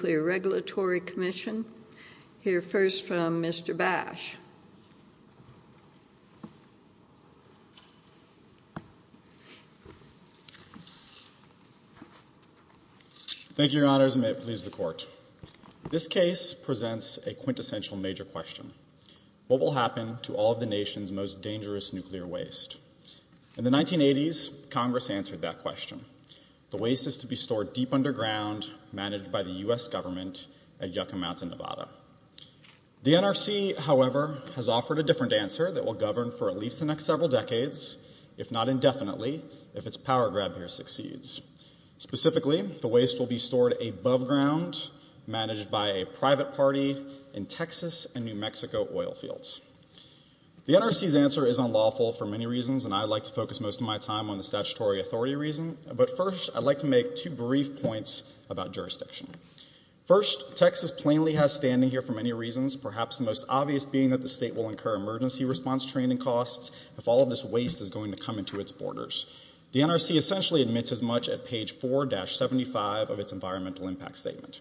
Nuclear Regulatory Commission. We'll hear first from Mr. Basch. Thank you, Your Honors, and may it please the Court. This case presents a quintessential major question. What will happen to all of the nation's most dangerous nuclear waste? In the 1980s, Congress answered that question. The waste is to be stored deep underground, managed by the U.S. government at Yucca Mountain, Nevada. The NRC, however, has offered a different answer that will govern for at least the next several decades, if not indefinitely, if its power grab here succeeds. Specifically, the waste will be stored above ground, managed by a private party in Texas and New Mexico oil fields. The NRC's answer is unlawful for many reasons, and I'd like to focus most of my time on the statutory authority reason. But first, I'd like to make two brief points about jurisdiction. First, Texas plainly has standing here for many reasons, perhaps the most obvious being that the state will incur emergency response training costs if all of this waste is going to come into its borders. The NRC essentially admits as much at page 4-75 of its environmental impact statement.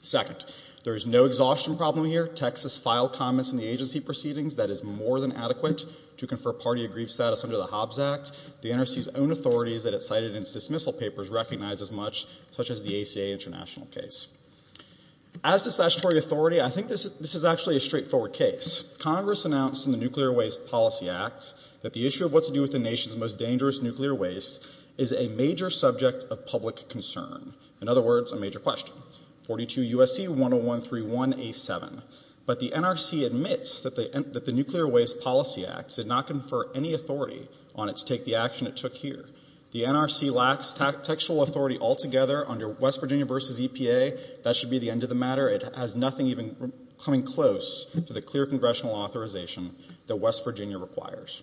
Second, there is no exhaustion problem here. Texas filed comments in the agency proceedings that is more than adequate to confer party grief status under the Hobbs Act. The NRC's own authorities that it cited in its dismissal papers recognize as much, such as the ACA international case. As to statutory authority, I think this is actually a straightforward case. Congress announced in the Nuclear Waste Policy Act that the issue of what to do with the nation's most dangerous nuclear waste is a major subject of public concern. In other words, a major question. 42 U.S.C. 10131A7. But the NRC does not have any authority on it to take the action it took here. The NRC lacks tactical authority altogether under West Virginia v. EPA. That should be the end of the matter. It has nothing even coming close to the clear congressional authorization that West Virginia requires.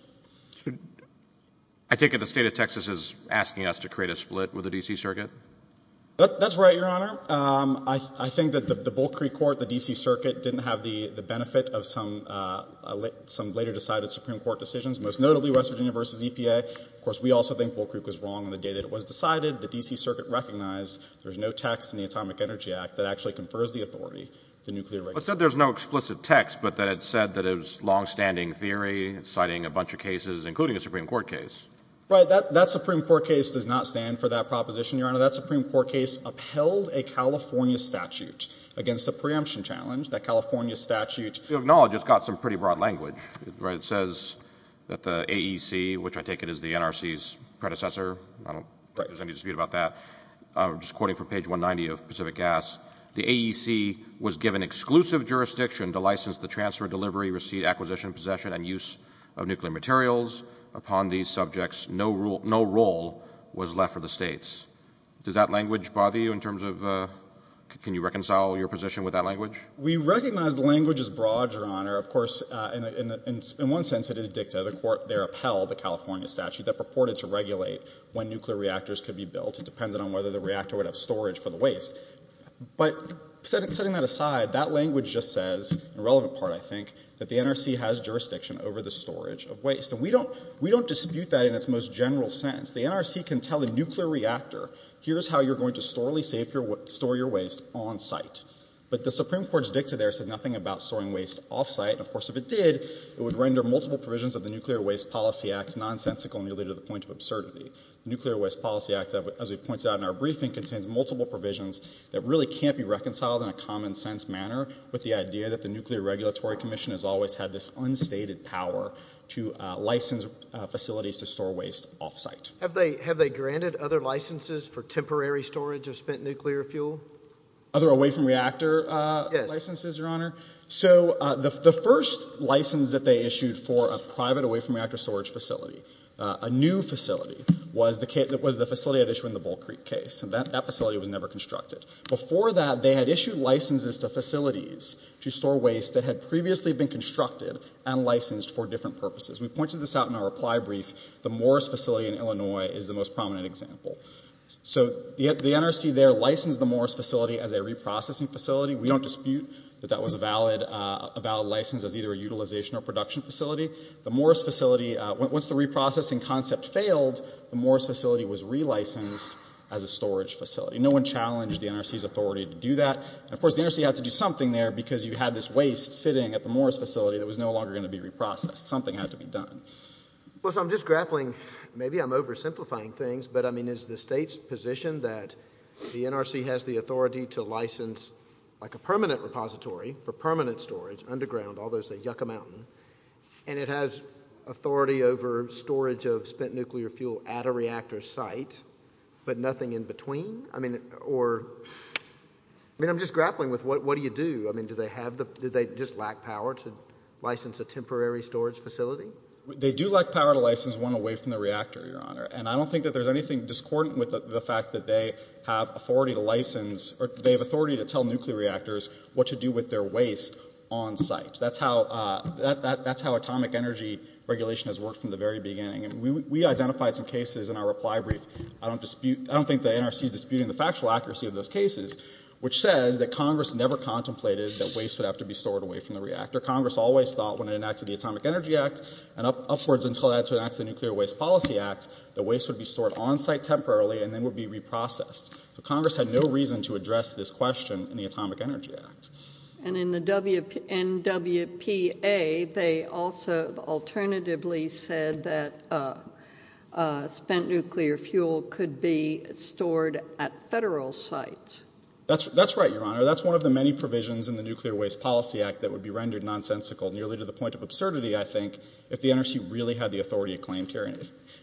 I take it the state of Texas is asking us to create a split with the D.C. Circuit? That's right, Your Honor. I think that the Bull Creek Court, the D.C. Circuit, didn't have the benefit of some later decided Supreme Court decisions, most notably West Virginia v. EPA. Of course, we also think Bull Creek was wrong on the day that it was decided. The D.C. Circuit recognized there's no text in the Atomic Energy Act that actually confers the authority to nuclear waste. It said there's no explicit text, but that it said that it was long-standing theory, citing a bunch of cases, including a Supreme Court case. Right. That Supreme Court case does not stand for that proposition, Your Honor. That Supreme Court case upheld a California statute against the preemption challenge. That California statute... You acknowledge it's got some pretty broad language. It says that the AEC, which I take it is the NRC's predecessor. I don't think there's any dispute about that. I'm just quoting from page 190 of Pacific Gas. The AEC was given exclusive jurisdiction to license the transfer, delivery, receipt, acquisition, possession, and use of nuclear materials upon these subjects. No role was left for the states. Does that language bother you in terms of... Can you reconcile your position with that language? We recognize the language is broad, Your Honor. Of course, in one sense, it is dicta. The court there upheld the California statute that purported to regulate when nuclear reactors could be built. It depends on whether the reactor would have storage for the waste. But setting that aside, that language just says, the relevant part, I think, that the NRC has jurisdiction over the storage of waste. We don't dispute that in its most general sense. The NRC can tell a nuclear reactor, here's how you're going to store your waste on site. But the Supreme Court's dicta there says nothing about storing waste off-site. Of course, if it did, it would render multiple provisions of the Nuclear Waste Policy Act nonsensical and lead to the point of absurdity. Nuclear Waste Policy Act, as we pointed out in our briefing, contains multiple provisions that really can't be reconciled in a common sense manner with the idea that the Nuclear Regulatory Commission has always had this unstated power to license facilities to store waste off-site. Have they granted other licenses for temporary storage of spent nuclear fuel? Other away from reactor licenses, Your Honor? So the first license that they issued for a private away from reactor storage facility, a new facility, was the facility they had issued in the Bull Creek case. That facility was never constructed. Before that, they had issued licenses to facilities to store waste that had previously been constructed and licensed for different purposes. We pointed this out in our reply brief. The Morris facility in Illinois is the most prominent example. So the NRC there licensed the Morris facility as their reprocessing facility. We don't dispute that that was a valid license as either a utilization or production facility. The Morris facility, once the reprocessing concept failed, the Morris facility was re-licensed as a storage facility. No one challenged the NRC's authority to do that. And of course, the NRC had to do something there because you had this waste sitting at the Morris facility that was no longer going to be reprocessed. Something had to be done. Well, so I'm just grappling, maybe I'm oversimplifying things, but I mean is the state's position that the NRC has the authority to license like a permanent repository for permanent storage, underground, all those that yuck a mountain, and it has authority over storage of spent nuclear fuel at a reactor site, but nothing in between? I mean, or, I mean, I'm just grappling with what do you do? I mean, do they have, do they just lack power to license a temporary storage facility? They do lack power to license one away from the reactor, Your Honor. And I don't think that there's anything discordant with the fact that they have authority to license, or they have authority to tell nuclear reactors what to do with their waste on site. That's how, that's how atomic energy regulation has worked from the very beginning. And we identified some cases in our reply brief. I don't dispute, I don't think the NRC is disputing the factual accuracy of those cases, which says that Congress never contemplated that waste would have to be stored away from the reactor. Congress always thought when it enacted the Atomic Energy Act and upwards until it had to enact the Nuclear Waste Policy Act, the waste would be stored on site temporarily and then would be reprocessed. So Congress had no reason to address this question in the Atomic Energy Act. And in the NWPA, they also alternatively said that spent nuclear fuel could be stored at federal sites. That's right, Your Honor. That's one of the many provisions in the Nuclear Waste Policy Act that would be rendered nonsensical, nearly to the point of absurdity, I think, if the authority had claimed, Your Honor.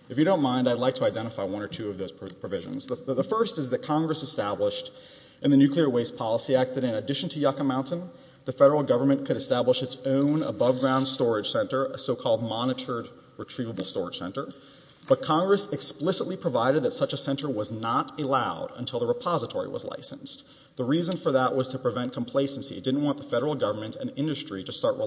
If you don't mind, I'd like to identify one or two of those provisions. The first is that Congress established in the Nuclear Waste Policy Act that in addition to Yucca Mountain, the federal government could establish its own above-ground storage center, a so-called monitored retrievable storage center. But Congress explicitly provided that such a center was not allowed until the repository was licensed. The reason for that was to prevent complacency. It didn't want the federal government and industry to start the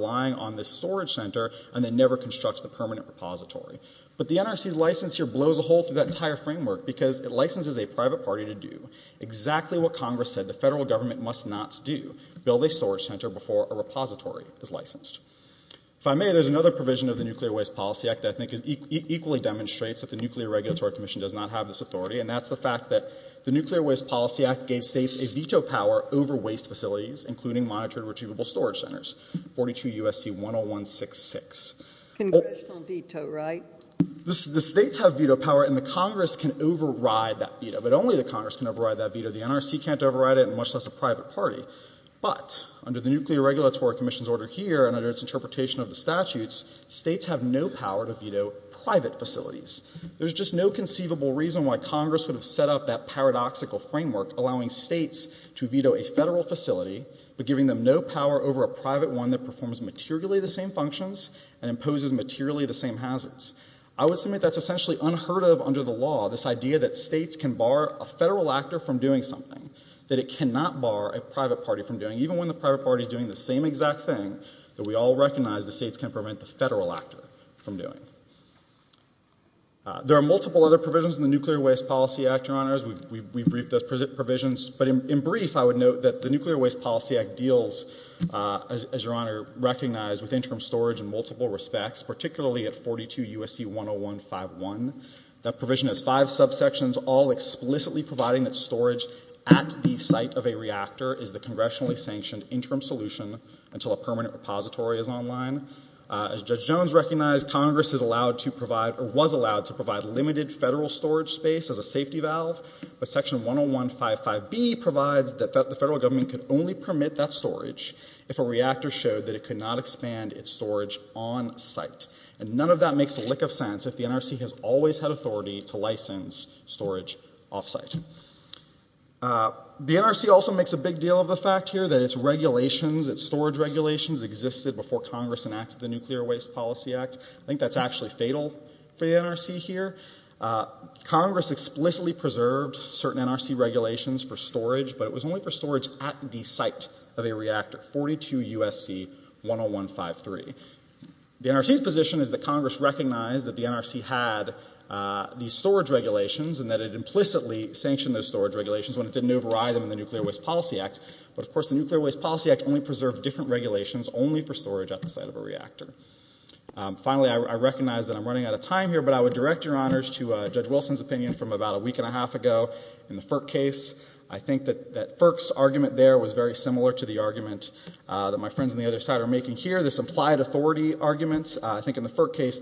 permanent repository. But the NRC's license here blows a hole through that entire framework because it licenses a private party to do exactly what Congress said the federal government must not do, build a storage center before a repository is licensed. If I may, there's another provision of the Nuclear Waste Policy Act that I think equally demonstrates that the Nuclear Regulatory Commission does not have this authority, and that's the fact that the Nuclear Waste Policy Act gave states a veto power over waste facilities, including monitored retrievable storage centers, 42 U.S.C. 10166. Congressional veto, right? The states have veto power, and the Congress can override that veto. But only the Congress can override that veto. The NRC can't override it, and much less a private party. But under the Nuclear Regulatory Commission's order here and under its interpretation of the statutes, states have no power to veto private facilities. There's just no conceivable reason why Congress would have set up that paradoxical framework, allowing states to veto a federal facility, but giving them no power over a private one that performs materially the same functions and imposes materially the same hazards. I would submit that's essentially unheard of under the law, this idea that states can bar a federal actor from doing something that it cannot bar a private party from doing, even when the private party's doing the same exact thing that we all recognize the states can prevent the federal actor from doing. There are multiple other provisions in the Nuclear Waste Policy Act, Your Honors. We've briefed those provisions. But in brief, I would note that the Nuclear Waste Policy Act deals, as Your Honor recognized, with interim storage in multiple respects, particularly at 42 U.S.C. 10151. That provision has five subsections, all explicitly providing that storage at the site of a reactor is the congressionally sanctioned interim solution until a permanent reactor is installed. Congress was allowed to provide limited federal storage space as a safety valve, but Section 10155B provides that the federal government could only permit that storage if a reactor showed that it could not expand its storage on site. And none of that makes a lick of sense if the NRC has always had authority to license storage off site. The NRC also makes a big deal of the fact here that its regulations, its storage regulations existed before Congress enacted the Nuclear Waste Policy Act. I think that's actually fatal for the NRC here. Congress explicitly preserved certain NRC regulations for storage, but it was only for storage at the site of a reactor, 42 U.S.C. 10153. The NRC's position is that Congress recognized that the NRC had these storage regulations and that it implicitly sanctioned those storage regulations when it didn't override them in the Nuclear Waste Policy Act. But of course, the Nuclear Waste Policy Act only preserved different regulations only for storage at the site of a reactor. Finally, I recognize that I'm running out of time here, but I would direct your honors to Judge Wilson's opinion from about a week and a half ago in the FERC case. I think that FERC's argument there was very similar to the argument that my friends on the other side are making here, this implied authority argument. I think in the FERC case,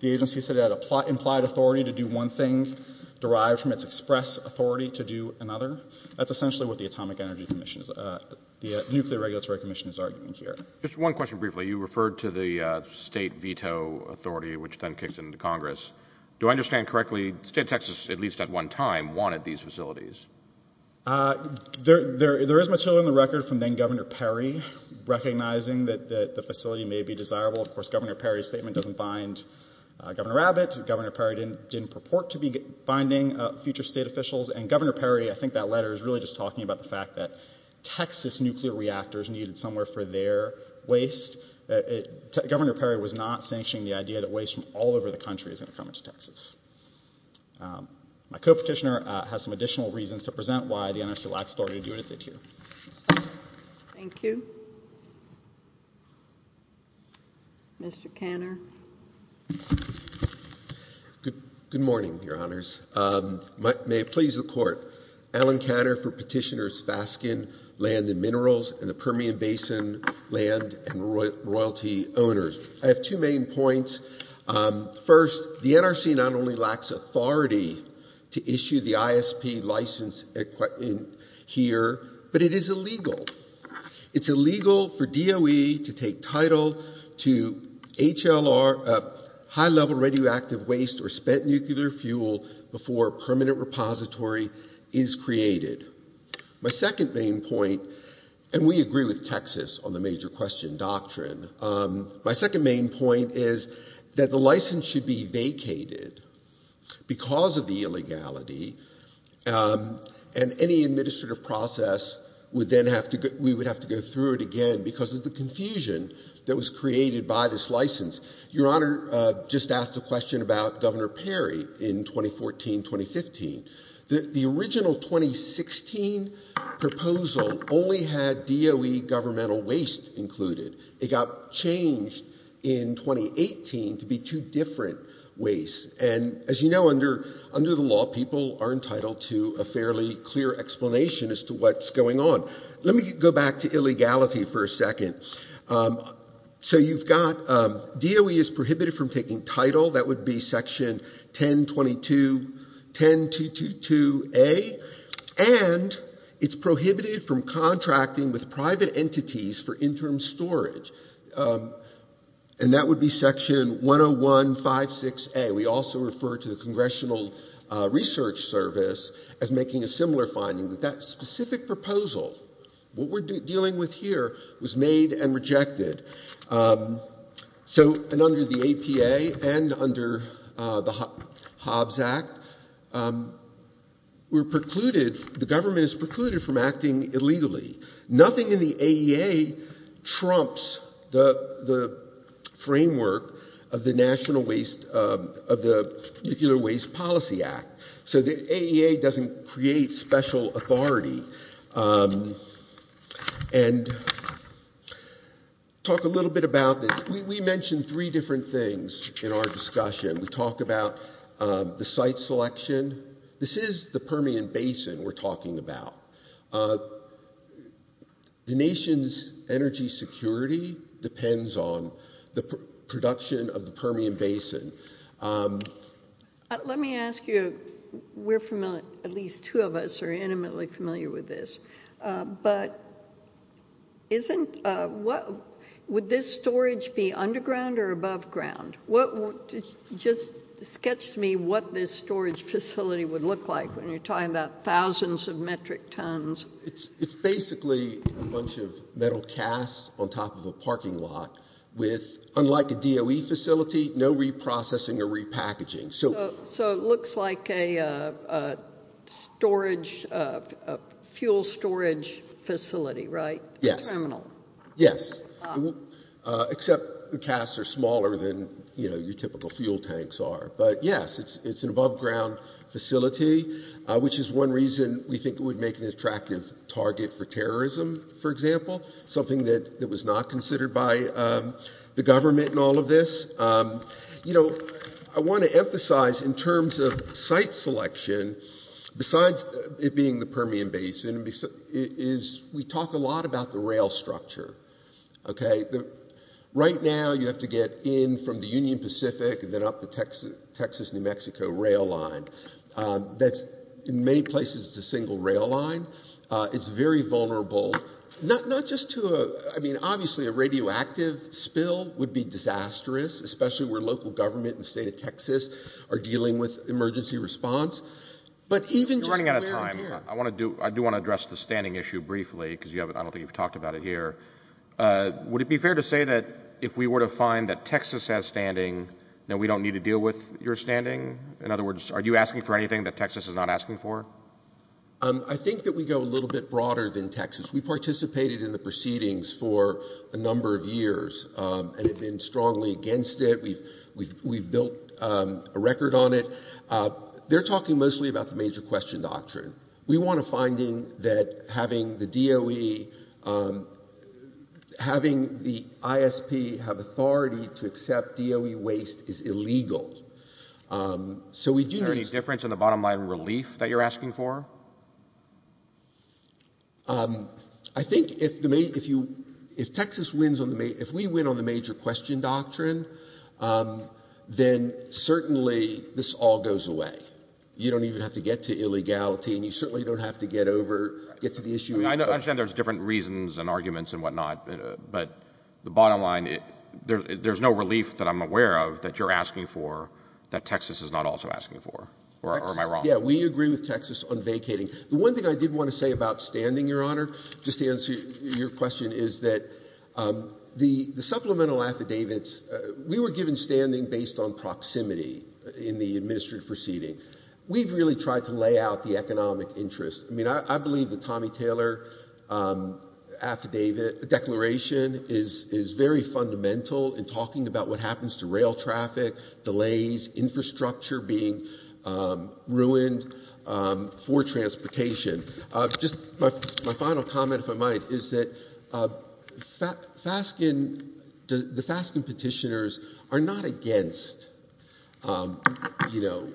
the agency said it had implied authority to do one thing derived from its express authority to do another. That's essentially what the Nuclear Regulatory Commission is arguing here. Just one question briefly. You referred to the state veto authority, which then kicks into Congress. Do I understand correctly, the state of Texas, at least at one time, wanted these facilities? There is material in the record from then Governor Perry recognizing that the facility may be desirable. Of course, Governor Perry's statement doesn't bind Governor Abbott. Governor Perry didn't purport to be binding future state officials. And Governor Perry, I think that letter is really just talking about the fact that Texas nuclear reactors needed somewhere for their waste. Governor Perry was not sanctioning the idea that waste from all over the country is going to come into Texas. My co-petitioner has some additional reasons to present why the NRC lacks authority to do what it did here. Thank you. Mr. Kanner. Good morning, Your Honors. May it please the Court. Alan Kanner for Petitioner's Fasken Land and Minerals and the Permian Basin Land and Royalty Owners. I have two main points. First, the NRC not only lacks authority to issue the ISP license here, but it is illegal. It's illegal for DOE to take title to HLR, high-level radioactive waste, or spent nuclear fuel before a permanent repository is created. My second main point, and we agree with Texas on the major question doctrine, my second main point is that the license should be vacated because of the illegality, and any administrative process, we would have to go through it again because of the confusion that was created by this license. Your Honor just asked a question about Governor Perry in 2014-2015. The original 2016 proposal only had DOE governmental waste included. It got changed in 2018 to be two different ways. And as you know, under the law, people are entitled to a fairly clear explanation as to what's going on. Let me go back to illegality for a second. So you've got DOE is prohibited from taking title, that would be section 1022A, and it's prohibited from contracting with private entities for interim storage. And that would be section 10156A. We also refer to the Congressional Research Service as making a similar finding, but that specific proposal, what we're dealing with here, was made and rejected. So under the APA and under the Hobbs Act, we're precluded, the government is precluded from acting illegally. Nothing in the AEA trumps the framework of the National Waste, of the Nuclear Waste Policy Act. So the AEA doesn't create special authority. And talk a little bit about this. We mentioned three different things in our discussion. We talked about the site selection. This is the Permian Basin we're talking about. The nation's energy security depends on the production of the Permian Basin. Let me ask you, we're familiar, at least two of us are intimately familiar with this, but would this storage be underground or above ground? Just sketch to me what this storage facility would look like when you're talking about thousands of metric tons. It's basically a bunch of metal casts on top of a parking lot with, unlike a DOE facility, no reprocessing or repackaging. So it looks like a fuel storage facility, right? Yes. Except the casts are smaller than your typical fuel tanks are. But yes, it's an above ground facility, which is one reason we think it would make an attractive target for terrorism, for example, something that was not considered by the government in all of this. You know, I want to emphasize in terms of site selection, besides it being the Permian Basin, we talk a lot about the rail structure. Right now you have to get in from the Union Pacific and then up the Texas-New Mexico rail line. In many places it's a single rail line. It's very vulnerable, not just to a, I mean, obviously a radioactive spill would be disastrous, especially where local government and the state of Texas are dealing with emergency response. But even just running out of time, I want to do, I do want to address the standing issue briefly because you haven't, I don't think you've talked about it here. Would it be fair to say that if we were to find that Texas has standing that we don't need to deal with your standing? In other words, are you asking for anything that Texas is not asking for? I think that we go a little bit broader than Texas. We participated in the proceedings for a number of years and have been strongly against it. We've built a record on it. They're talking mostly about the major question doctrine. We want a finding that having the DOE, having the ISP have authority to accept DOE waste is illegal. Is there any difference in the bottom line relief that you're asking for? I think if the, if you, if Texas wins on the, if we win on the major question doctrine, then certainly this all goes away. You don't even have to get to illegality and you certainly don't have to get over, get to the issue. I understand there's different reasons and arguments and whatnot, but the bottom line, there's no relief that I'm aware of that you're asking for. That Texas is not also asking for, or am I wrong? Yeah, we agree with Texas on vacating. The one thing I did want to say about standing, Your Honor, just to answer your question, is that the supplemental affidavits, we were given standing based on proximity in the administrative proceeding. We've really tried to lay out the economic interest. I mean, I believe the Tommy Taylor affidavit, declaration is, is very fundamental in talking about what happens to rail traffic, delays, infrastructure being ruined for transportation. Just my final comment, if I might, is that FASCN, the FASCN petitioners are not against, you know,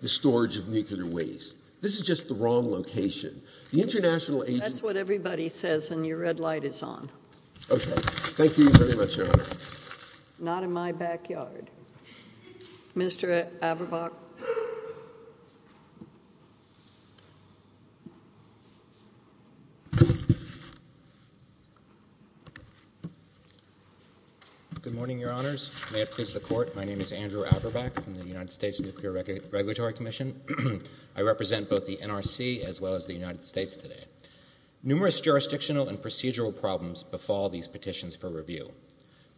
the storage of nuclear waste. This is just the wrong location. The international agency- Okay. Thank you very much, Your Honor. Not in my backyard. Mr. Aberbach. Good morning, Your Honors. May it please the Court, my name is Andrew Aberbach from the United States Nuclear Regulatory Commission. I represent both the NRC as well as the United States. The issue of nuclear waste is a real problem for all these petitions for review.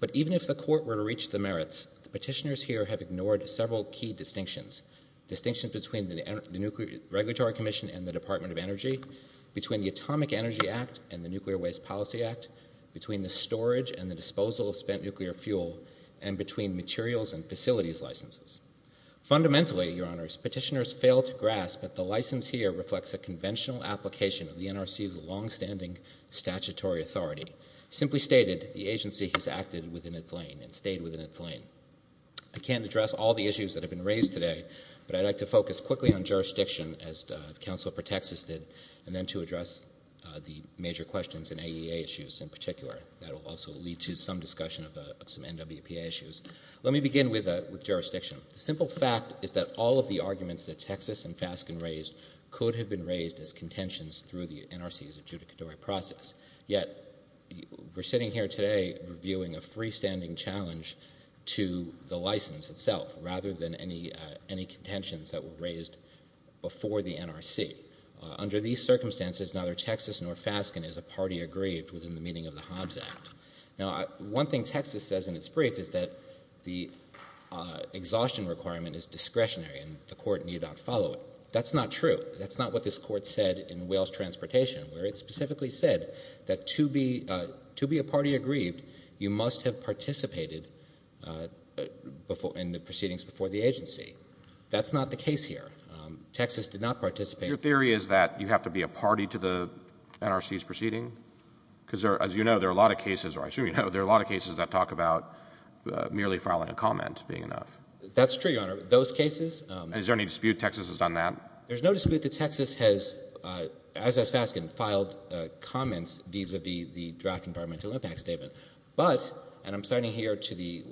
But even if the Court were to reach the merits, the petitioners here have ignored several key distinctions, distinctions between the Nuclear Regulatory Commission and the Department of Energy, between the Atomic Energy Act and the Nuclear Waste Policy Act, between the storage and the disposal of spent nuclear fuel, and between materials and facilities licenses. Fundamentally, Your Honors, petitioners fail to grasp that the license here reflects a Simply stated, the agency has acted within its lane and stayed within its lane. I can't address all the issues that have been raised today, but I'd like to focus quickly on jurisdiction, as the Counsel for Texas did, and then to address the major questions and AEA issues in particular. That will also lead to some discussion of some NWPA issues. Let me begin with jurisdiction. The simple fact is that all of the arguments that Texas and FASCN raised could have been raised as contentions through the NRC's adjudicatory process. Yet, we're sitting here today reviewing a freestanding challenge to the license itself, rather than any contentions that were raised before the NRC. Under these circumstances, neither Texas nor FASCN is a party aggrieved within the meaning of the Hobbs Act. Now, one thing Texas says in its brief is that the exhaustion requirement is discretionary and the court need not follow it. That's not true. That's not what this court said in Wales Transportation, where it specifically said that to be a party aggrieved, you must have participated in the proceedings before the agency. That's not the case here. Texas did not participate. Your theory is that you have to be a party to the NRC's proceeding? Because as you know, there are a lot of cases, or I assume you know, there are a lot of cases that talk about merely filing a comment being enough. That's true, Your Honor. Those cases— Is there any dispute Texas has done that? There's no dispute that Texas has, as has FASCN, filed comments vis-à-vis the draft Environmental Impact Statement. But, and I'm citing here to the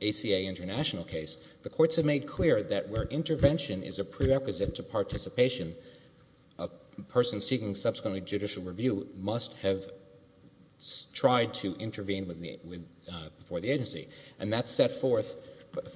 ACA international case, the courts have made clear that where intervention is a prerequisite to participation, a person seeking subsequently judicial review must have tried to intervene before the agency. And that's set forth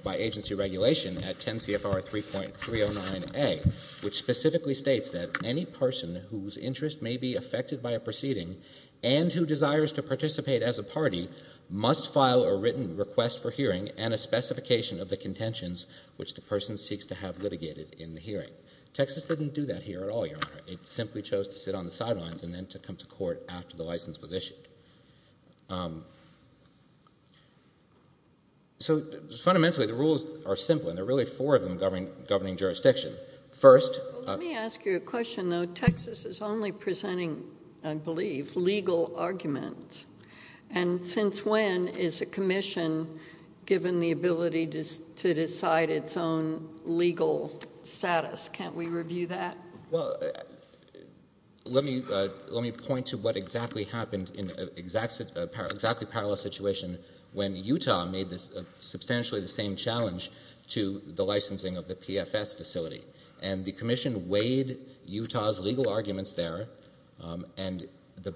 by agency regulation at 10 CFR 3.309A, which specifically states that any person whose interest may be affected by a proceeding and who desires to participate as a party must file a written request for hearing and a specification of the contentions which the person seeks to have litigated in the hearing. Texas didn't do that here at all, Your Honor. It simply chose to sit on the sidelines and then to come to court after the license was issued. So, fundamentally, the rules are simple, and there are really four of them governing jurisdiction. First— Well, let me ask you a question, though. Texas is only presenting, I believe, legal arguments. And since when is a commission given the ability to decide its own legal status? Can't we review that? Well, let me point to what exactly happened in an exactly parallel situation when Utah made substantially the same challenge to the licensing of the PFS facility. And the commission weighed Utah's legal arguments there, and the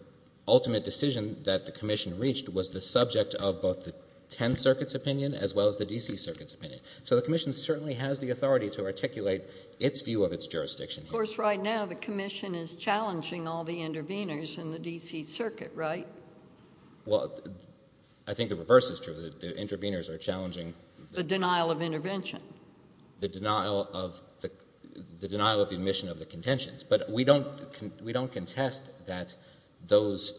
ultimate decision that the commission reached was the subject of both the Tenth Circuit's opinion as well as the D.C. Circuit's opinion. So the commission certainly has the authority to articulate its view of its jurisdiction. Of course, right now the commission is challenging all the interveners in the D.C. Circuit, right? Well, I think the reverse is true. The interveners are challenging— The denial of intervention. The denial of the—the denial of the admission of the contentions. But we don't—we don't contest that those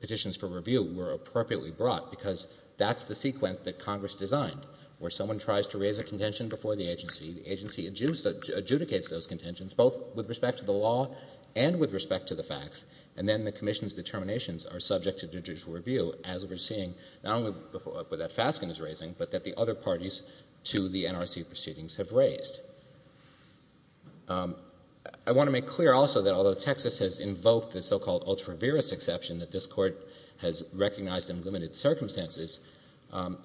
petitions for review were appropriately brought because that's the sequence that Congress designed, where someone tries to raise a contention before the agency, the agency adjudicates those contentions both with respect to the law and with respect to the facts, and then the commission's determinations are subject to judicial review, as we're seeing not only with what Faskin is raising, but that the other parties to the NRC proceedings have raised. I want to make clear also that although Texas has invoked the so-called ultra-veris exception that this Court has recognized in limited circumstances,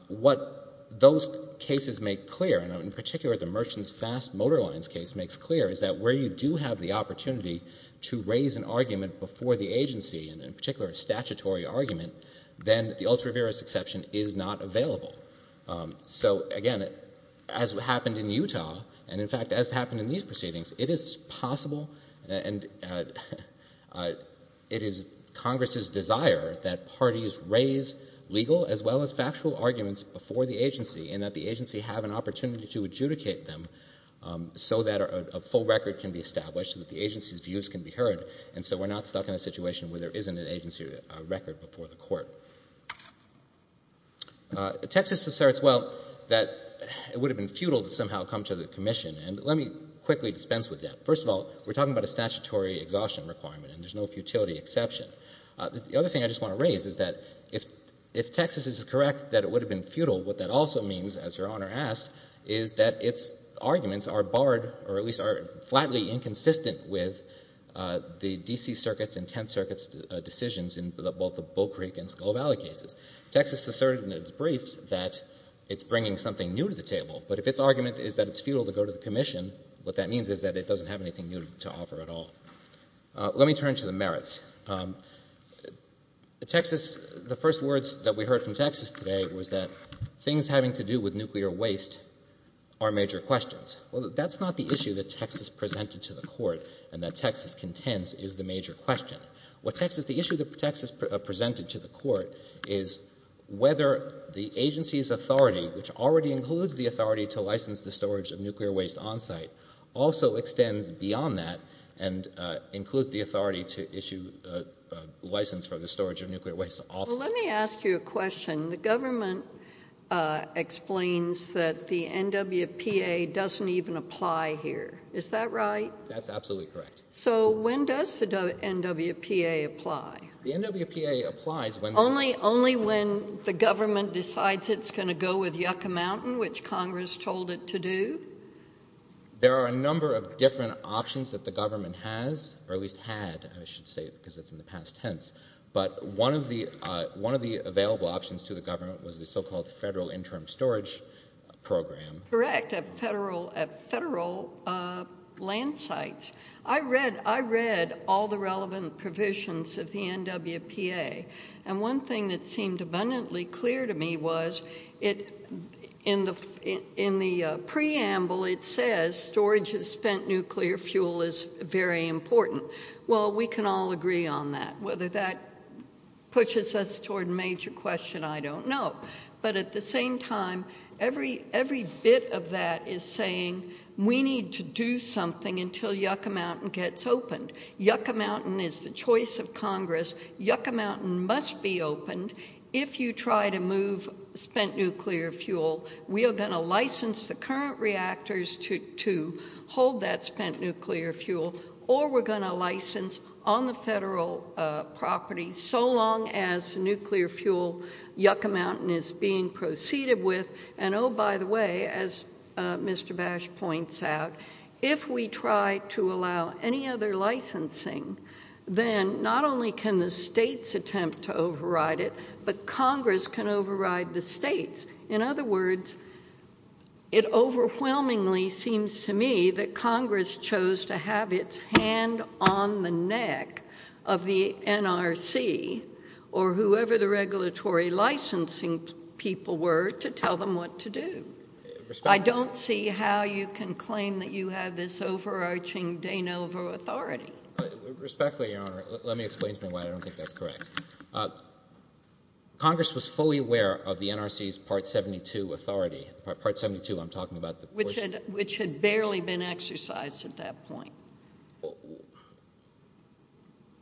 what those cases make clear, and in particular the Merchants Fast Motor Lines case makes clear, is that where you do have the opportunity to raise an argument before the agency, and in particular a statutory argument, then the ultra-veris exception is not available. So again, as happened in Utah, and in fact as happened in these proceedings, it is possible and it is Congress's desire that parties raise legal as well as factual arguments before the agency, and that the agency have an opportunity to adjudicate them so that a full record can be established, that the agency's views can be heard, and so we're not stuck in a situation where there isn't an agency record before the Court. Texas asserts, well, that it would have been futile to somehow come to the Commission, and let me quickly dispense with that. First of all, we're talking about a statutory exhaustion requirement, and there's no futility exception. The other thing I just want to raise is that if Texas is correct that it would have been futile, what that also means, as Your Honor asked, is that its arguments are barred, or at least are flatly inconsistent with the D.C. circuits and Tenth Circuit's decisions in both the Bull Creek and Skull Valley cases. Texas asserted in its briefs that it's bringing something new to the table, but if its argument is that it's futile to go to the Commission, what that means is that it doesn't have anything new to offer at all. Let me turn to the merits. The first words that we heard from Texas today was that things having to do with nuclear waste are major questions. Well, that's not the issue that Texas presented to the Court and that Texas contends is the major question. The issue that Texas presented to the Court is whether the agency's authority, which already includes the storage of nuclear waste on-site, also extends beyond that and includes the authority to issue license for the storage of nuclear waste off-site. Well, let me ask you a question. The government explains that the NWPA doesn't even apply here. Is that right? That's absolutely correct. So when does the NWPA apply? The NWPA applies when... Only when the government decides it's going to go with the NWPA. There are a number of different options that the government has, or at least had, I should say, because it's in the past tense, but one of the available options to the government was the so-called federal interim storage program. Correct, at federal land sites. I read all the relevant it says, storage of spent nuclear fuel is very important. Well, we can all agree on that. Whether that pushes us toward a major question, I don't know. But at the same time, every bit of that is saying we need to do something until Yucca Mountain gets opened. Yucca Mountain is the choice of Congress. Yucca Mountain must be opened if you try to move spent nuclear fuel. We are going to license the current reactors to hold that spent nuclear fuel, or we're going to license on the federal property, so long as nuclear fuel, Yucca Mountain is being proceeded with. And oh, by the way, as Mr. Bash points out, if we try to allow any other licensing, then not only can the states attempt to override it, but Congress can override the states. In other words, it overwhelmingly seems to me that Congress chose to have its hand on the neck of the NRC, or whoever the regulatory licensing people were, to tell them what to do. I don't see how you can claim that you have this overarching de novo authority. Respectfully, Your Honor, let me explain to me why I don't think that's correct. Congress was fully aware of the NRC's Part 72 authority. Part 72, I'm talking about the portion... Which had barely been exercised at that point.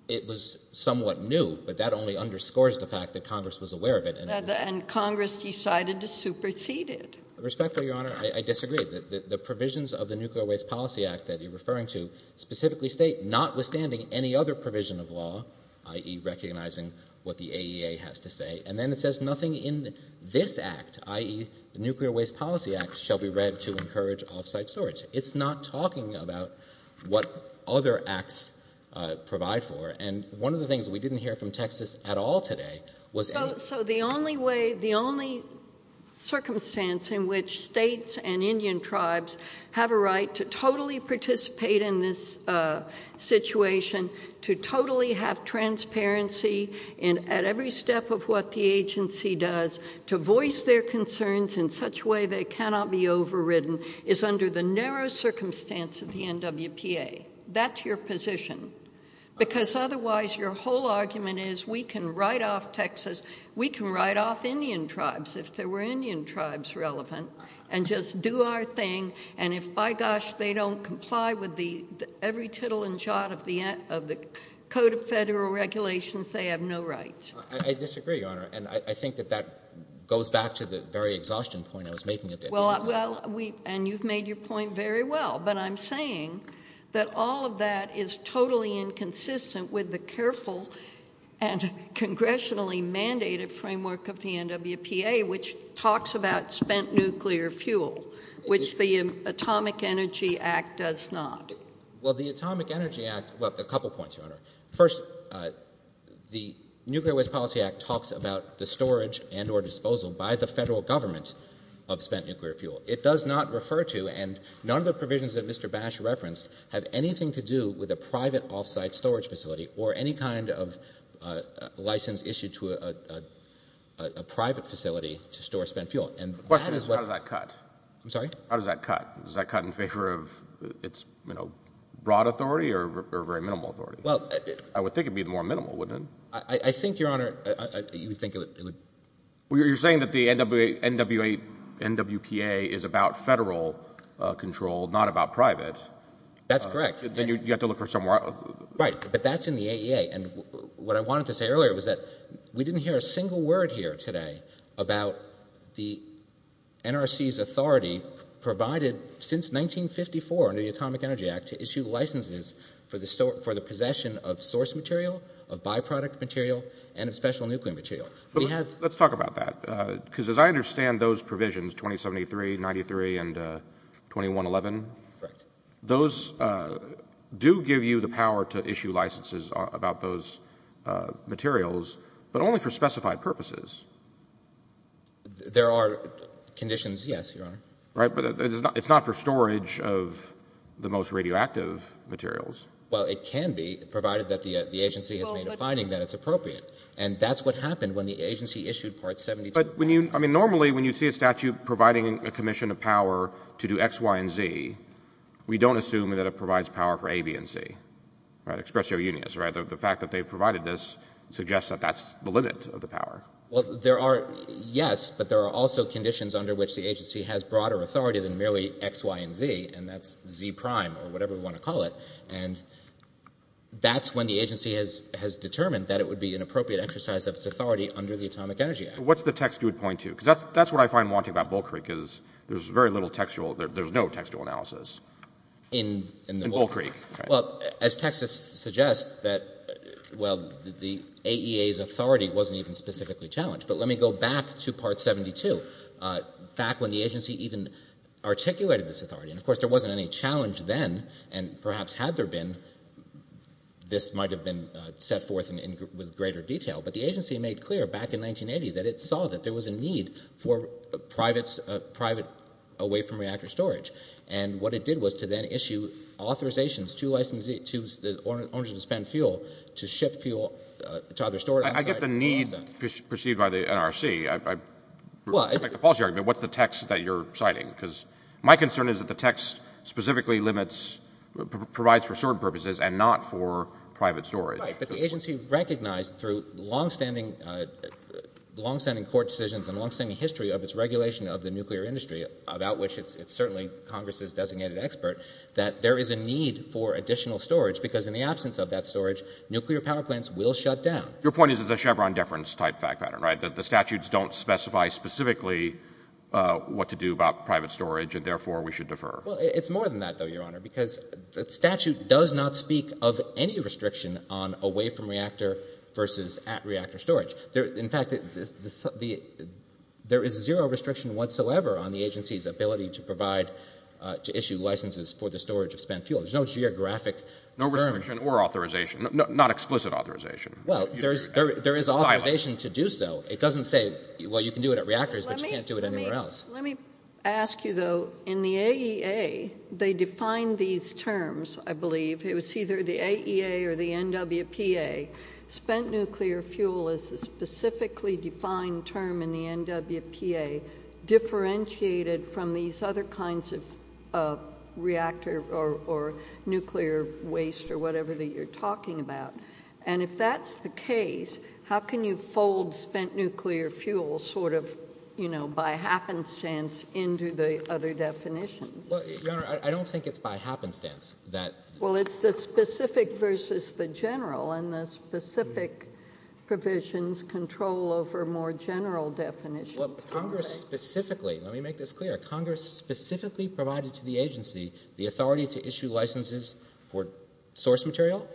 It was somewhat new, but that only underscores the fact that Congress was aware of it. And Congress decided to supersede it. Respectfully, Your Honor, I disagree. The provisions of the Nuclear Waste Policy Act that you're referring to specifically state, notwithstanding any other provision of law, i.e. recognizing what the AEA has to say, and then it says nothing in this act, i.e. the Nuclear Waste Policy Act, shall be read to encourage off-site storage. It's not talking about what other acts provide for. And one of the things we didn't hear from Texas at all today was... So the only way, the only circumstance in which states and Indian tribes have a right to totally participate in this situation, to totally have transparency at every step of what the agency does, to voice their concerns in such a way they cannot be overridden, is under the narrow circumstance of the NWPA. That's your position. Because otherwise, your whole argument is, we can write off Texas, we can write off Indian tribes, if there were Indian tribes relevant, and just do our thing. And if, by gosh, they don't comply with every tittle and jot of the Code of Federal Regulations, they have no right. I disagree, Your Honor. And I think that that goes back to the very exhaustion point I was making. And you've made your point very well. But I'm saying that all of that is totally inconsistent with the careful and congressionally mandated framework of the NWPA, which talks about spent nuclear fuel, which the Atomic Energy Act does not. Well, the Atomic Energy Act... Well, a couple points, Your Honor. First, the Nuclear Waste Policy Act talks about the storage and or disposal by the federal government of spent nuclear fuel. It does not refer to, and none of the provisions that Mr. Bash referenced have anything to do with a private off-site storage facility or any kind of license issued to a private facility to store spent fuel. The question is, how does that cut? I'm sorry? How does that cut? Does that cut in favor of its broad authority or very minimal authority? I would think it would be more minimal, wouldn't it? I think, Your Honor, you would think it would... You're saying that the NWPA is about federal control, not about private. That's correct. Then you have to look for somewhere else. Right. But that's in the AEA. And what I wanted to say earlier was that we didn't hear a single word here today about the NRC's authority provided since 1954 under the Atomic Energy Act to issue licenses for the possession of source material, of byproduct material, and of special nuclear material. Let's talk about that. Because as I understand those provisions, 2073, 93, and 2111... Correct. ...those do give you the power to issue licenses about those materials, but only for specified purposes. There are conditions, yes, Your Honor. Right. But it's not for storage of the most radioactive materials. Well, it can be, provided that the agency has made a finding that it's appropriate. And that's what happened when the agency issued Part 72. But when you... I mean, normally when you see a statute providing a commission of power to do X, Y, and Z, we don't assume that it provides power for A, B, and C, right, expressio unius, right? The fact that they've provided this suggests that that's the limit of the power. Well, there are, yes, but there are also conditions under which the agency has broader authority than merely X, Y, and Z. And that's Z prime or whatever we want to call it. And that's when the agency has determined that it would be an appropriate exercise of its authority under the Atomic Energy Act. What's the text you would point to? Because that's what I find haunting about Bull Creek is there's very little textual... In Bull Creek. Well, as Texas suggests that, well, the AEA's authority wasn't even specifically challenged. But let me go back to Part 72, back when the agency even articulated this authority. And, of course, there wasn't any challenge then. And perhaps had there been, this might have been set forth with greater detail. But the agency made clear back in 1980 that it saw that there was a need for private away from reactor storage. And what it did was to then issue authorizations to licensee, to the owner to spend fuel to ship fuel to other storage. I get the need perceived by the NRC. I like the policy argument. What's the text that you're citing? Because my concern is that the text specifically limits, provides for certain purposes and not for private storage. Right, but the agency recognized through longstanding court decisions and longstanding history of its regulation of the nuclear industry, about which it's certainly Congress's designated expert, that there is a need for additional storage. Because in the absence of that storage, nuclear power plants will shut down. Your point is it's a Chevron deference type fact pattern, right? The statutes don't specify specifically what to do about private storage. And therefore, we should defer. Well, it's more than that, though, Your Honor. Because the statute does not speak of any restriction on away from reactor versus at reactor storage. In fact, there is zero restriction whatsoever on the agency's ability to issue licenses for the storage of spent fuel. There's no geographic term. No restriction or authorization. Not explicit authorization. Well, there is authorization to do so. It doesn't say, well, you can do it at reactors, but you can't do it anywhere else. Let me ask you, though, in the AEA, they define these terms, I believe. It's either the AEA or the NWPA. Spent nuclear fuel is a specifically defined term in the NWPA, differentiated from these other kinds of reactor or nuclear waste or whatever that you're talking about. And if that's the case, how can you fold spent nuclear fuel sort of, you know, by happenstance into the other definitions? Well, Your Honor, I don't think it's by happenstance that. Well, it's the specific versus the general. And the specific provisions control over more general definitions. Well, Congress specifically, let me make this clear. Congress specifically provided to the agency the authority to issue licenses for source material,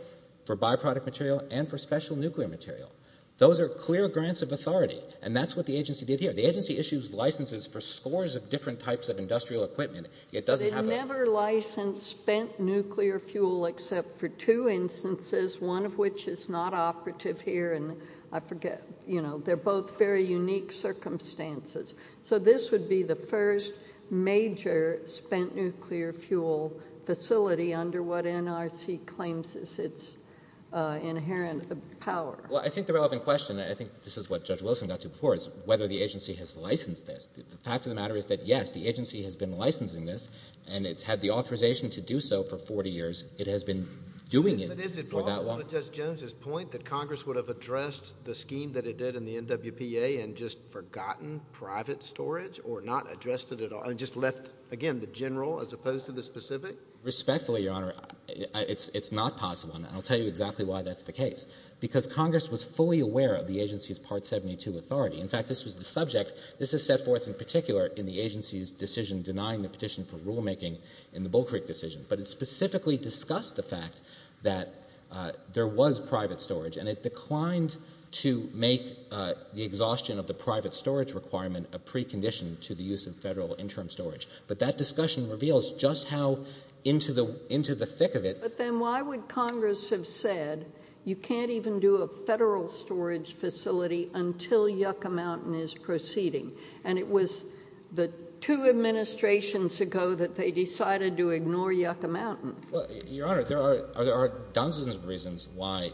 for byproduct material, and for special nuclear material. Those are clear grants of authority. And that's what the agency did here. The agency issues licenses for scores of different types of industrial equipment. It never licensed spent nuclear fuel except for two instances, one of which is not operative here. And I forget, you know, they're both very unique circumstances. So this would be the first major spent nuclear fuel facility under what NRC claims is its inherent power. Well, I think the relevant question, and I think this is what Judge Wilson got to before, is whether the agency has licensed this. The fact of the matter is that, yes, the agency has been licensing this, and it's had the authorization to do so for 40 years. It has been doing it for that long. But is it wrong, on Judge Jones's point, that Congress would have addressed the scheme that it did in the NWPA and just forgotten private storage, or not addressed it at all, and just left, again, the general as opposed to the specific? Respectfully, Your Honor, it's not possible. And I'll tell you exactly why that's the case. Because Congress was fully aware of the agency's Part 72 authority. In fact, this was the subject. This is set forth in particular in the agency's decision denying the petition for rulemaking in the Bull Creek decision. But it specifically discussed the fact that there was private storage, and it declined to make the exhaustion of the private storage requirement a precondition to the use of federal interim storage. But that discussion reveals just how into the thick of it— But then why would Congress have said you can't even do a federal storage facility until Yucca Mountain is proceeding? And it was the two administrations ago that they decided to ignore Yucca Mountain. Well, Your Honor, there are dozens of reasons why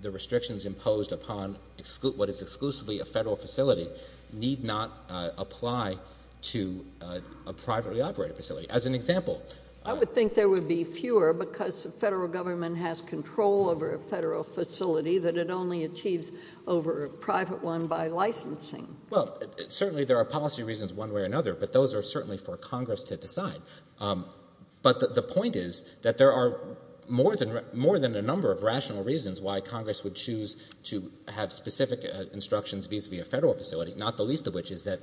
the restrictions imposed upon what is exclusively a federal facility need not apply to a privately operated facility. As an example— I would think there would be fewer, because the federal government has control over a federal facility that it only achieves over a private one by licensing. Well, certainly there are policy reasons one way or another, but those are certainly for Congress to decide. But the point is that there are more than a number of rational reasons why Congress would choose to have specific instructions vis-a-vis a federal facility, not the least of which is that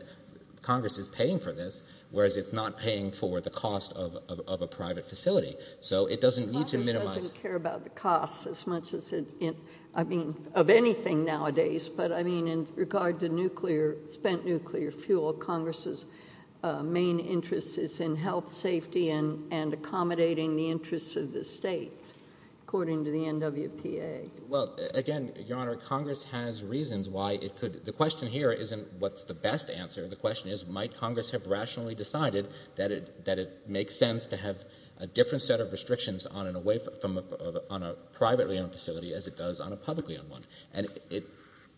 Congress is paying for this, whereas it's not paying for the cost of a private facility. So it doesn't need to minimize— Congress doesn't care about the cost as much as it— I mean, of anything nowadays. But I mean, in regard to spent nuclear fuel, Congress's main interest is in health, safety, and accommodating the interests of the state, according to the NWPA. Well, again, Your Honor, Congress has reasons why it could— The question here isn't what's the best answer. The question is, might Congress have rationally decided that it makes sense to have a different set of restrictions on a privately owned facility as it does on a publicly owned one? And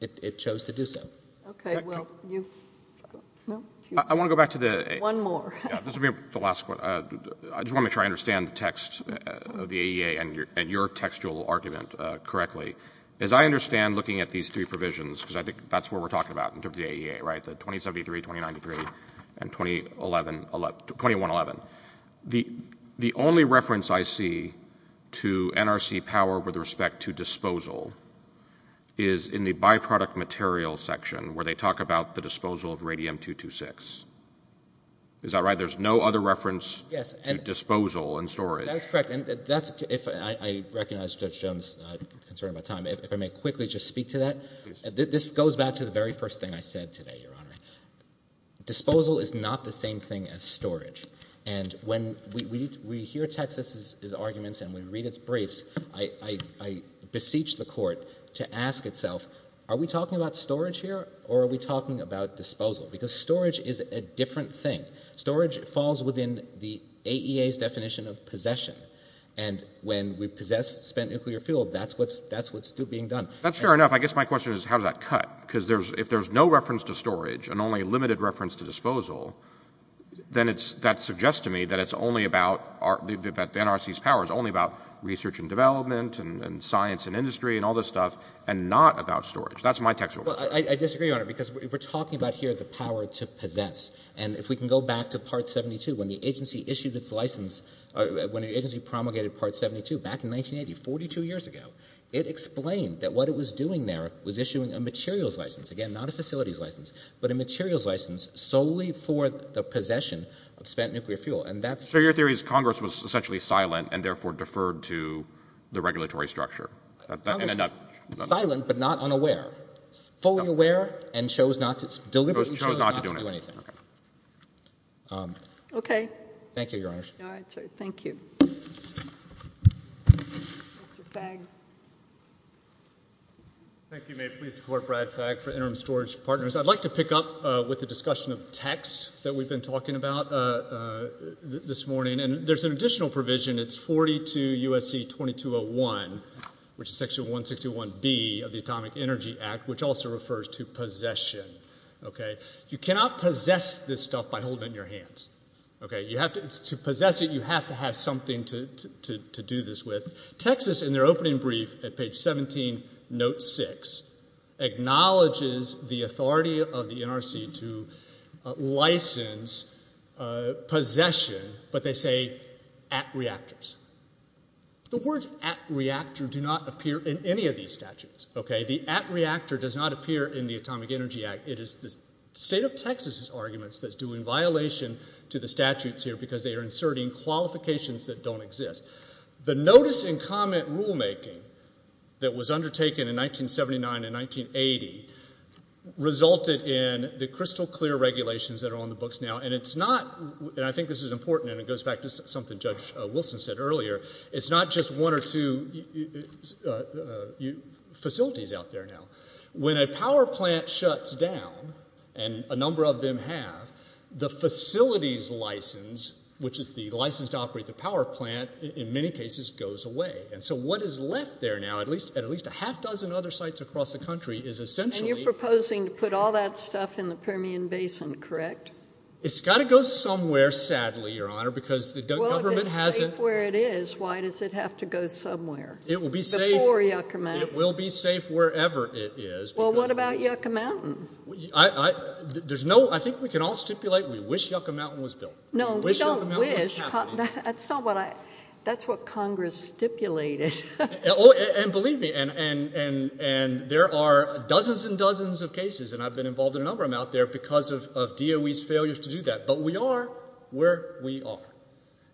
it chose to do so. Okay. Well, you— I want to go back to the— One more. This will be the last one. I just want to try to understand the text of the AEA and your textual argument correctly. As I understand, looking at these three provisions, because I think that's what we're talking about in terms of the AEA, right? 2073, 2093, and 2011—2111. The only reference I see to NRC power with respect to disposal is in the byproduct material section, where they talk about the disposal of radium-226. Is that right? There's no other reference to disposal and storage. That's correct. I recognize Judge Jones' concern about time. If I may quickly just speak to that. This goes back to the very first thing I said today, Your Honor. Disposal is not the same thing as storage. And when we hear Texas's arguments and we read its briefs, I beseech the court to ask itself, are we talking about storage here or are we talking about disposal? Because storage is a different thing. Storage falls within the AEA's definition of possession. And when we possess spent nuclear fuel, that's what's being done. That's fair enough. I guess my question is, how does that cut? Because if there's no reference to storage and only limited reference to disposal, then that suggests to me that it's only about—that the NRC's power is only about research and development and science and industry and all this stuff and not about storage. That's my textual question. I disagree, Your Honor, because we're talking about here the power to possess. And if we can go back to Part 72, when the agency issued its license— when the agency promulgated Part 72 back in 1980, 42 years ago, it explained that what it was doing there was issuing a materials license. Again, not a facilities license, but a materials license solely for the possession of spent nuclear fuel. And that's— So your theory is Congress was essentially silent and therefore deferred to the regulatory structure? Silent but not unaware. Fully aware and chose not to—deliberately chose not to do anything. Okay. Thank you, Your Honors. All right. Thank you. Mr. Fagg. Thank you, ma'am. Please support Brad Fagg for interim storage partners. I'd like to pick up with the discussion of text that we've been talking about this morning. And there's an additional provision. It's 42 U.S.C. 2201, which is section 161B of the Atomic Energy Act, which also refers to possession. Okay. You cannot possess this stuff by holding it in your hands. Okay. To possess it, you have to have something to do this with. Texas, in their opening brief at page 17, note 6, acknowledges the authority of the NRC to license possession, but they say at reactors. The words at reactor do not appear in any of these statutes. Okay. The at reactor does not appear in the Atomic Energy Act. It is the state of Texas' arguments that's doing violation to the statutes here, because they are inserting qualifications that don't exist. The notice and comment rulemaking that was undertaken in 1979 and 1980 resulted in the crystal clear regulations that are on the books now. And it's not, and I think this is important, and it goes back to something Judge Wilson said earlier, it's not just one or two facilities out there now. When a power plant shuts down, and a number of them have, the facilities license, which is the license to operate the power plant, in many cases, goes away. And so what is left there now, at least a half dozen other sites across the country, is essentially- And you're proposing to put all that stuff in the Permian Basin, correct? It's got to go somewhere, sadly, Your Honor, because the government hasn't- Well, if it's safe where it is, why does it have to go somewhere? It will be safe- Before Yucca Mountain. It will be safe wherever it is because- Well, what about Yucca Mountain? There's no, I think we can all stipulate we wish Yucca Mountain was built. No, we don't wish, that's not what I, that's what Congress stipulated. Oh, and believe me, and there are dozens and dozens of cases, and I've been involved in a number of them out there, because of DOE's failures to do that. But we are where we are.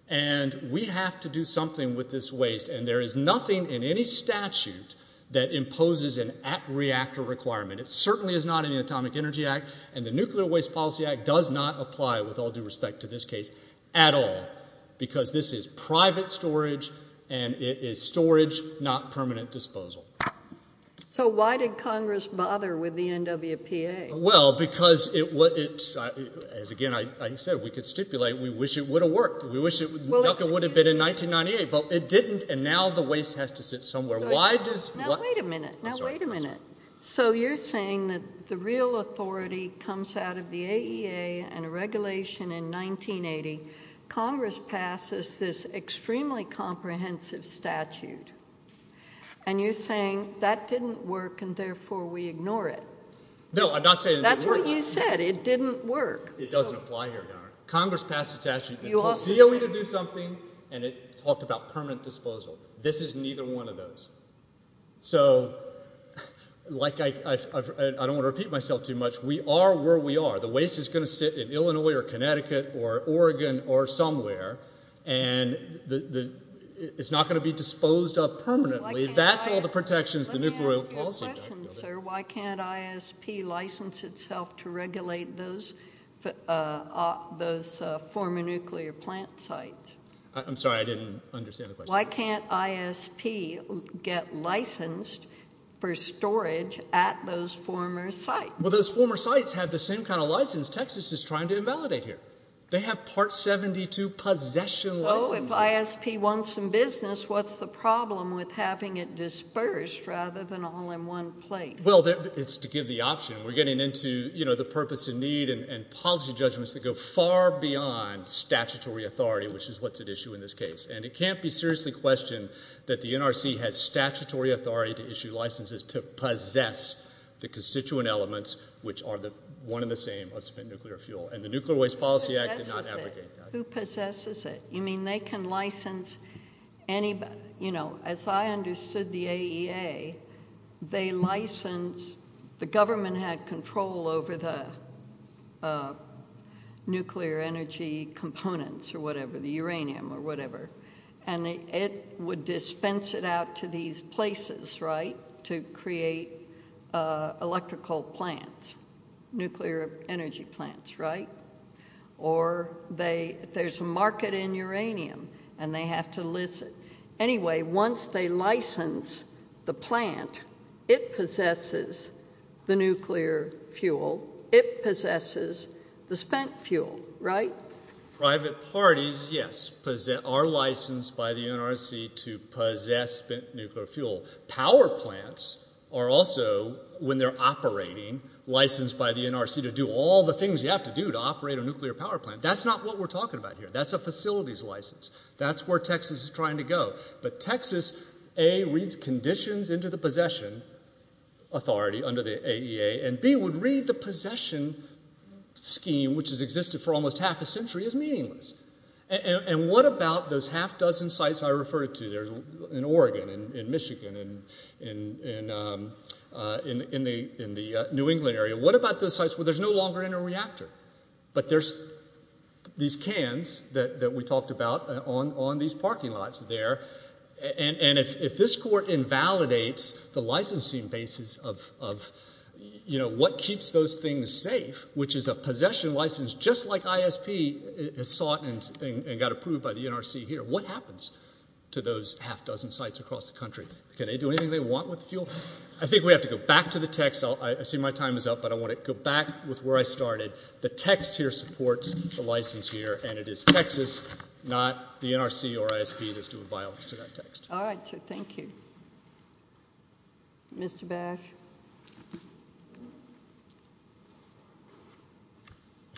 And we have to do something with this waste. And there is nothing in any statute that imposes an at-reactor requirement. It certainly is not in the Atomic Energy Act. And the Nuclear Waste Policy Act does not apply, with all due respect to this case, at all. Because this is private storage, and it is storage, not permanent disposal. So why did Congress bother with the NWPA? Well, because it, as again, I said, we could stipulate we wish it would have worked. We wish Yucca would have been in 1998. But it didn't, and now the waste has to sit somewhere. Why does... Now, wait a minute. Now, wait a minute. So you're saying that the real authority comes out of the AEA and a regulation in 1980. Congress passes this extremely comprehensive statute. And you're saying that didn't work, and therefore we ignore it. No, I'm not saying it didn't work. That's what you said, it didn't work. It doesn't apply here, Your Honor. Congress passed a statute that tells DOE to do something, and it talked about permanent disposal. This is neither one of those. So, like, I don't want to repeat myself too much. We are where we are. The waste is going to sit in Illinois, or Connecticut, or Oregon, or somewhere. And it's not going to be disposed of permanently. That's all the protections the Nuclear... Let me ask you a question, sir. Why can't ISP license itself to regulate those former nuclear plant sites? I'm sorry, I didn't understand the question. Why can't ISP get licensed for storage at those former sites? Well, those former sites have the same kind of license Texas is trying to invalidate here. They have Part 72 possession licenses. So, if ISP wants some business, what's the problem with having it dispersed rather than all in one place? Well, it's to give the option. We're getting into, you know, the purpose and need and policy judgments that go far beyond statutory authority, which is what's at issue in this case. And it can't be seriously questioned that the NRC has statutory authority to issue licenses to possess the constituent elements, which are the one and the same of spent nuclear fuel. And the Nuclear Waste Policy Act did not abrogate that. Who possesses it? You mean they can license anybody? You know, as I understood the AEA, they license... The government had control over the nuclear energy components or whatever, the uranium or whatever. And it would dispense it out to these places, right, to create electrical plants, nuclear energy plants, right? Or there's a market in uranium and they have to list it. Anyway, once they license the plant, it possesses the nuclear fuel. It possesses the spent fuel, right? Private parties, yes, are licensed by the NRC to possess spent nuclear fuel. Power plants are also, when they're operating, licensed by the NRC to do all the things you have to do to operate a nuclear power plant. That's not what we're talking about here. That's a facilities license. That's where Texas is trying to go. But Texas, A, reads conditions into the possession authority under the AEA, and B, would read the possession scheme, which has existed for almost half a century, as meaningless. And what about those half dozen sites I referred to? There's in Oregon and in Michigan and in the New England area. What about those sites where there's no longer any reactor? But there's these cans that we talked about on these parking lots there, and if this court invalidates the licensing basis of, you know, what keeps those things safe, which is a possession license just like ISP has sought and got approved by the NRC here, what happens to those half dozen sites across the country? Can they do anything they want with the fuel? I think we have to go back to the text. I see my time is up, but I want to go back with where I started. The text here supports the license here, and it is Texas, not the NRC or ISP that's doing violence to that text. All right. Thank you. Mr. Bach?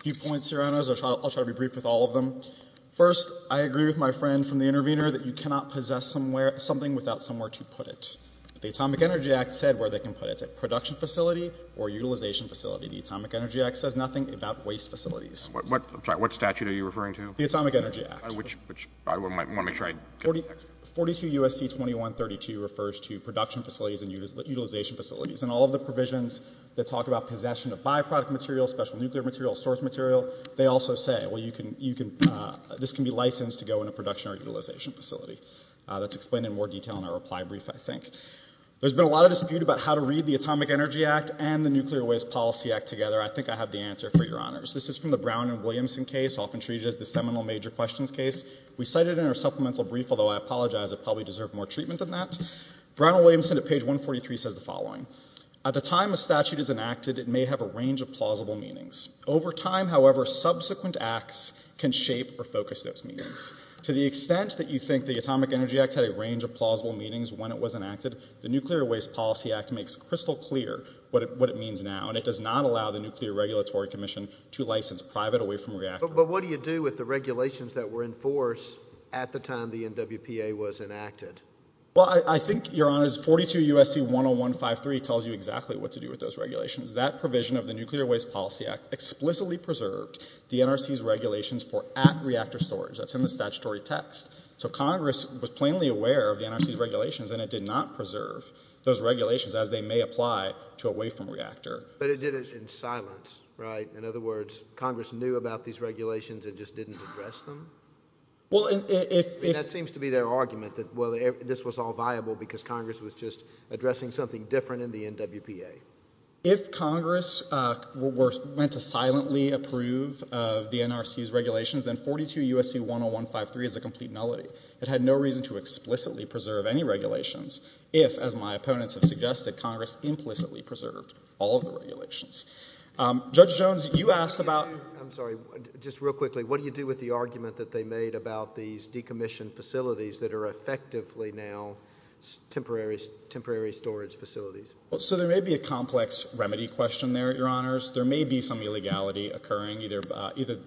A few points, Your Honors. I'll try to be brief with all of them. First, I agree with my friend from the intervener that you cannot possess something without somewhere to put it. The Atomic Energy Act said where they can put it. It's a production facility or utilization facility. The Atomic Energy Act says nothing about waste facilities. I'm sorry. What statute are you referring to? The Atomic Energy Act. Which I want to make sure I get the text. 42 U.S.C. 2132 refers to production facilities and utilization facilities. And all of the provisions that talk about possession of byproduct material, special nuclear material, source material, they also say, well, this can be licensed to go in a production or utilization facility. That's explained in more detail in our reply brief, I think. There's been a lot of dispute about how to read the Atomic Energy Act and the Nuclear Waste Policy Act together. I think I have the answer for Your Honors. This is from the Brown and Williamson case, often treated as the seminal major questions case. We cite it in our supplemental brief, although I apologize. It probably deserved more treatment than that. Brown and Williamson at page 143 says the following. At the time a statute is enacted, it may have a range of plausible meanings. Over time, however, subsequent acts can shape or focus those meanings. To the extent that you think the Atomic Energy Act had a range of plausible meanings when it was enacted, the Nuclear Waste Policy Act makes crystal clear what it means now. And it does not allow the Nuclear Regulatory Commission to license private away from reactor. But what do you do with the regulations that were in force at the time the NWPA was enacted? Well, I think, Your Honors, 42 U.S.C. 10153 tells you exactly what to do with those regulations. That provision of the Nuclear Waste Policy Act explicitly preserved the NRC's regulations for at reactor storage. That's in the statutory text. So Congress was plainly aware of the NRC's regulations, and it did not preserve those regulations as they may apply to away from reactor. But it did it in silence, right? In other words, Congress knew about these regulations and just didn't address them? Well, if... That seems to be their argument that, well, this was all viable because Congress was just addressing something different in the NWPA. If Congress were meant to silently approve of the NRC's regulations, then 42 U.S.C. 10153 is a complete nullity. It had no reason to explicitly preserve any regulations if, as my opponents have suggested, Congress implicitly preserved all of the regulations. Judge Jones, you asked about... I'm sorry. Just real quickly, what do you do with the argument that they made about these decommissioned facilities that are effectively now temporary storage facilities? So there may be a complex remedy question there, Your Honors. There may be some illegality occurring, either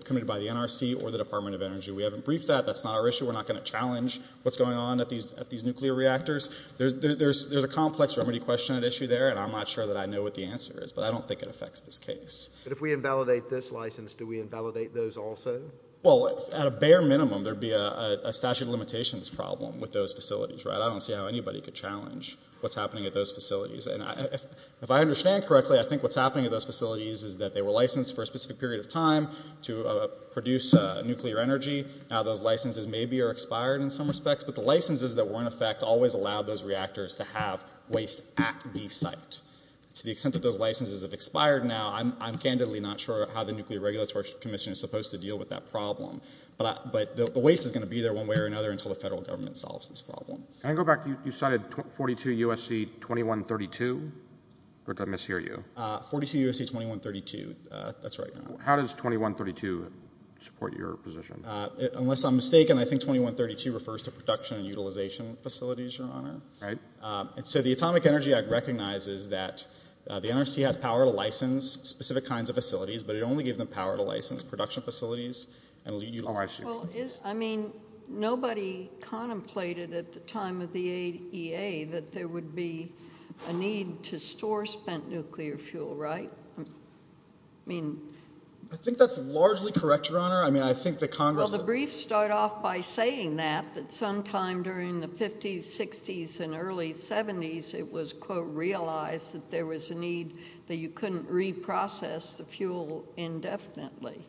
committed by the NRC or the Department of Energy. We haven't briefed that. That's not our issue. We're not going to challenge what's going on at these nuclear reactors. There's a complex remedy question at issue there, and I'm not sure that I know what the answer is, but I don't think it affects this case. But if we invalidate this license, do we invalidate those also? Well, at a bare minimum, there'd be a statute of limitations problem with those facilities, right? I don't see how anybody could challenge what's happening at those facilities. If I understand correctly, I think what's happening at those facilities is that they were licensed for a specific period of time to produce nuclear energy. Now those licenses maybe are expired in some respects, but the licenses that were in effect always allowed those reactors to have waste at the site. To the extent that those licenses have expired now, I'm candidly not sure how the Nuclear Regulatory Commission is supposed to deal with that problem. But the waste is going to be there one way or another until the federal government solves this problem. I go back, you cited 42 U.S.C. 2132, or did I mishear you? 42 U.S.C. 2132, that's right. How does 2132 support your position? Unless I'm mistaken, I think 2132 refers to production and utilization facilities, Your Honor. Right. And so the Atomic Energy Act recognizes that the NRC has power to license specific kinds of facilities, but it only gives them power to license production facilities. Well, I mean, nobody contemplated at the time of the EA that there would be a need to store spent nuclear fuel, right? I mean. I think that's largely correct, Your Honor. I mean, I think the Congress- Well, the briefs start off by saying that, that sometime during the 50s, 60s, and early 70s, it was, quote, realized that there was a need that you couldn't reprocess the fuel indefinitely.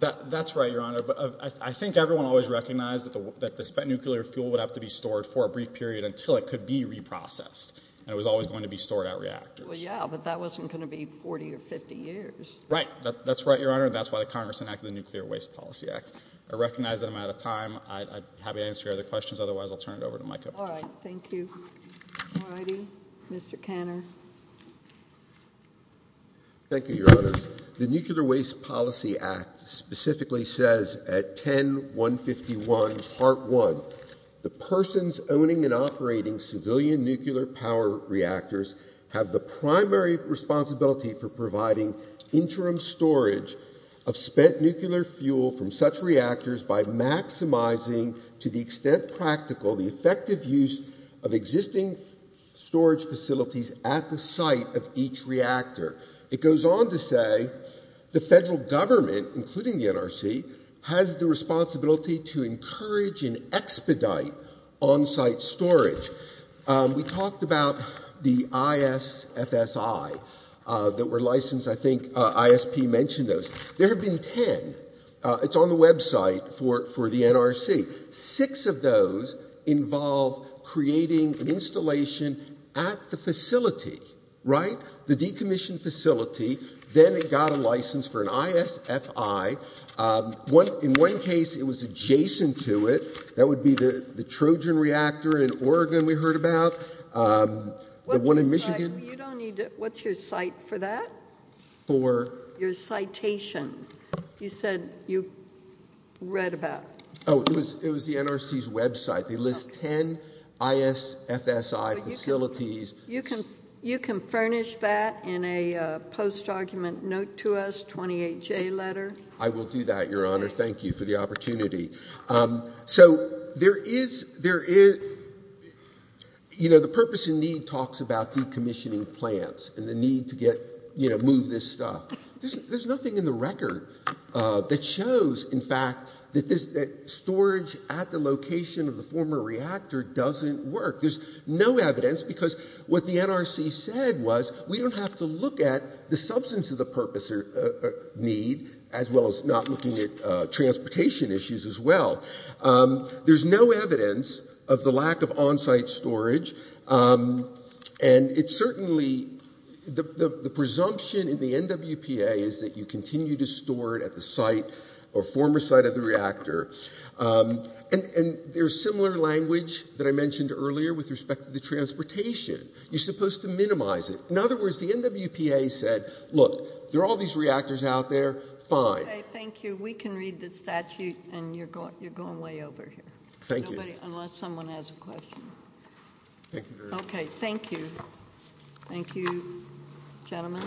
That's right, Your Honor. But I think everyone always recognized that the spent nuclear fuel would have to be stored for a brief period until it could be reprocessed. And it was always going to be stored at reactors. Well, yeah, but that wasn't going to be 40 or 50 years. Right. That's right, Your Honor. That's why the Congress enacted the Nuclear Waste Policy Act. I recognize that I'm out of time. I'd be happy to answer your other questions. Otherwise, I'll turn it over to Micah. All right. Thank you. All righty. Mr. Kanner. Thank you, Your Honor. The Nuclear Waste Policy Act specifically says at 10-151, part one, the persons owning and operating civilian nuclear power reactors have the primary responsibility for providing interim storage of spent nuclear fuel from such reactors by maximizing, to the extent practical, the effective use of existing storage facilities at the site of each reactor. It goes on to say the federal government, including the NRC, has the responsibility to encourage and expedite on-site storage. We talked about the ISFSI that were licensed. I think ISP mentioned those. There have been 10. It's on the website for the NRC. Six of those involve creating an installation at the facility, right? The decommissioned facility. Then it got a license for an ISFI. In one case, it was adjacent to it. That would be the Trojan reactor in Oregon we heard about, the one in Michigan. You don't need to... What's your site for that? For? Your citation. You said you read about. Oh, it was the NRC's website. They list 10 ISFSI facilities. You can furnish that in a post-argument note to us, 28J letter. I will do that, Your Honor. Thank you for the opportunity. So there is... The purpose and need talks about decommissioning plants and the need to move this stuff. There's nothing in the record that shows, in fact, that storage at the location of the former reactor doesn't work. There's no evidence, because what the NRC said was, we don't have to look at the substance of the purpose or need, as well as not looking at transportation issues as well. There's no evidence of the lack of on-site storage. And it's certainly... The presumption in the NWPA is that you continue to store it at the site or former site of the reactor. And there's similar language that I mentioned earlier with respect to the transportation. You're supposed to minimize it. In other words, the NWPA said, look, there are all these reactors out there. Fine. Thank you. We can read the statute. And you're going way over here. Thank you. Unless someone has a question. Okay. Thank you. Thank you, gentlemen.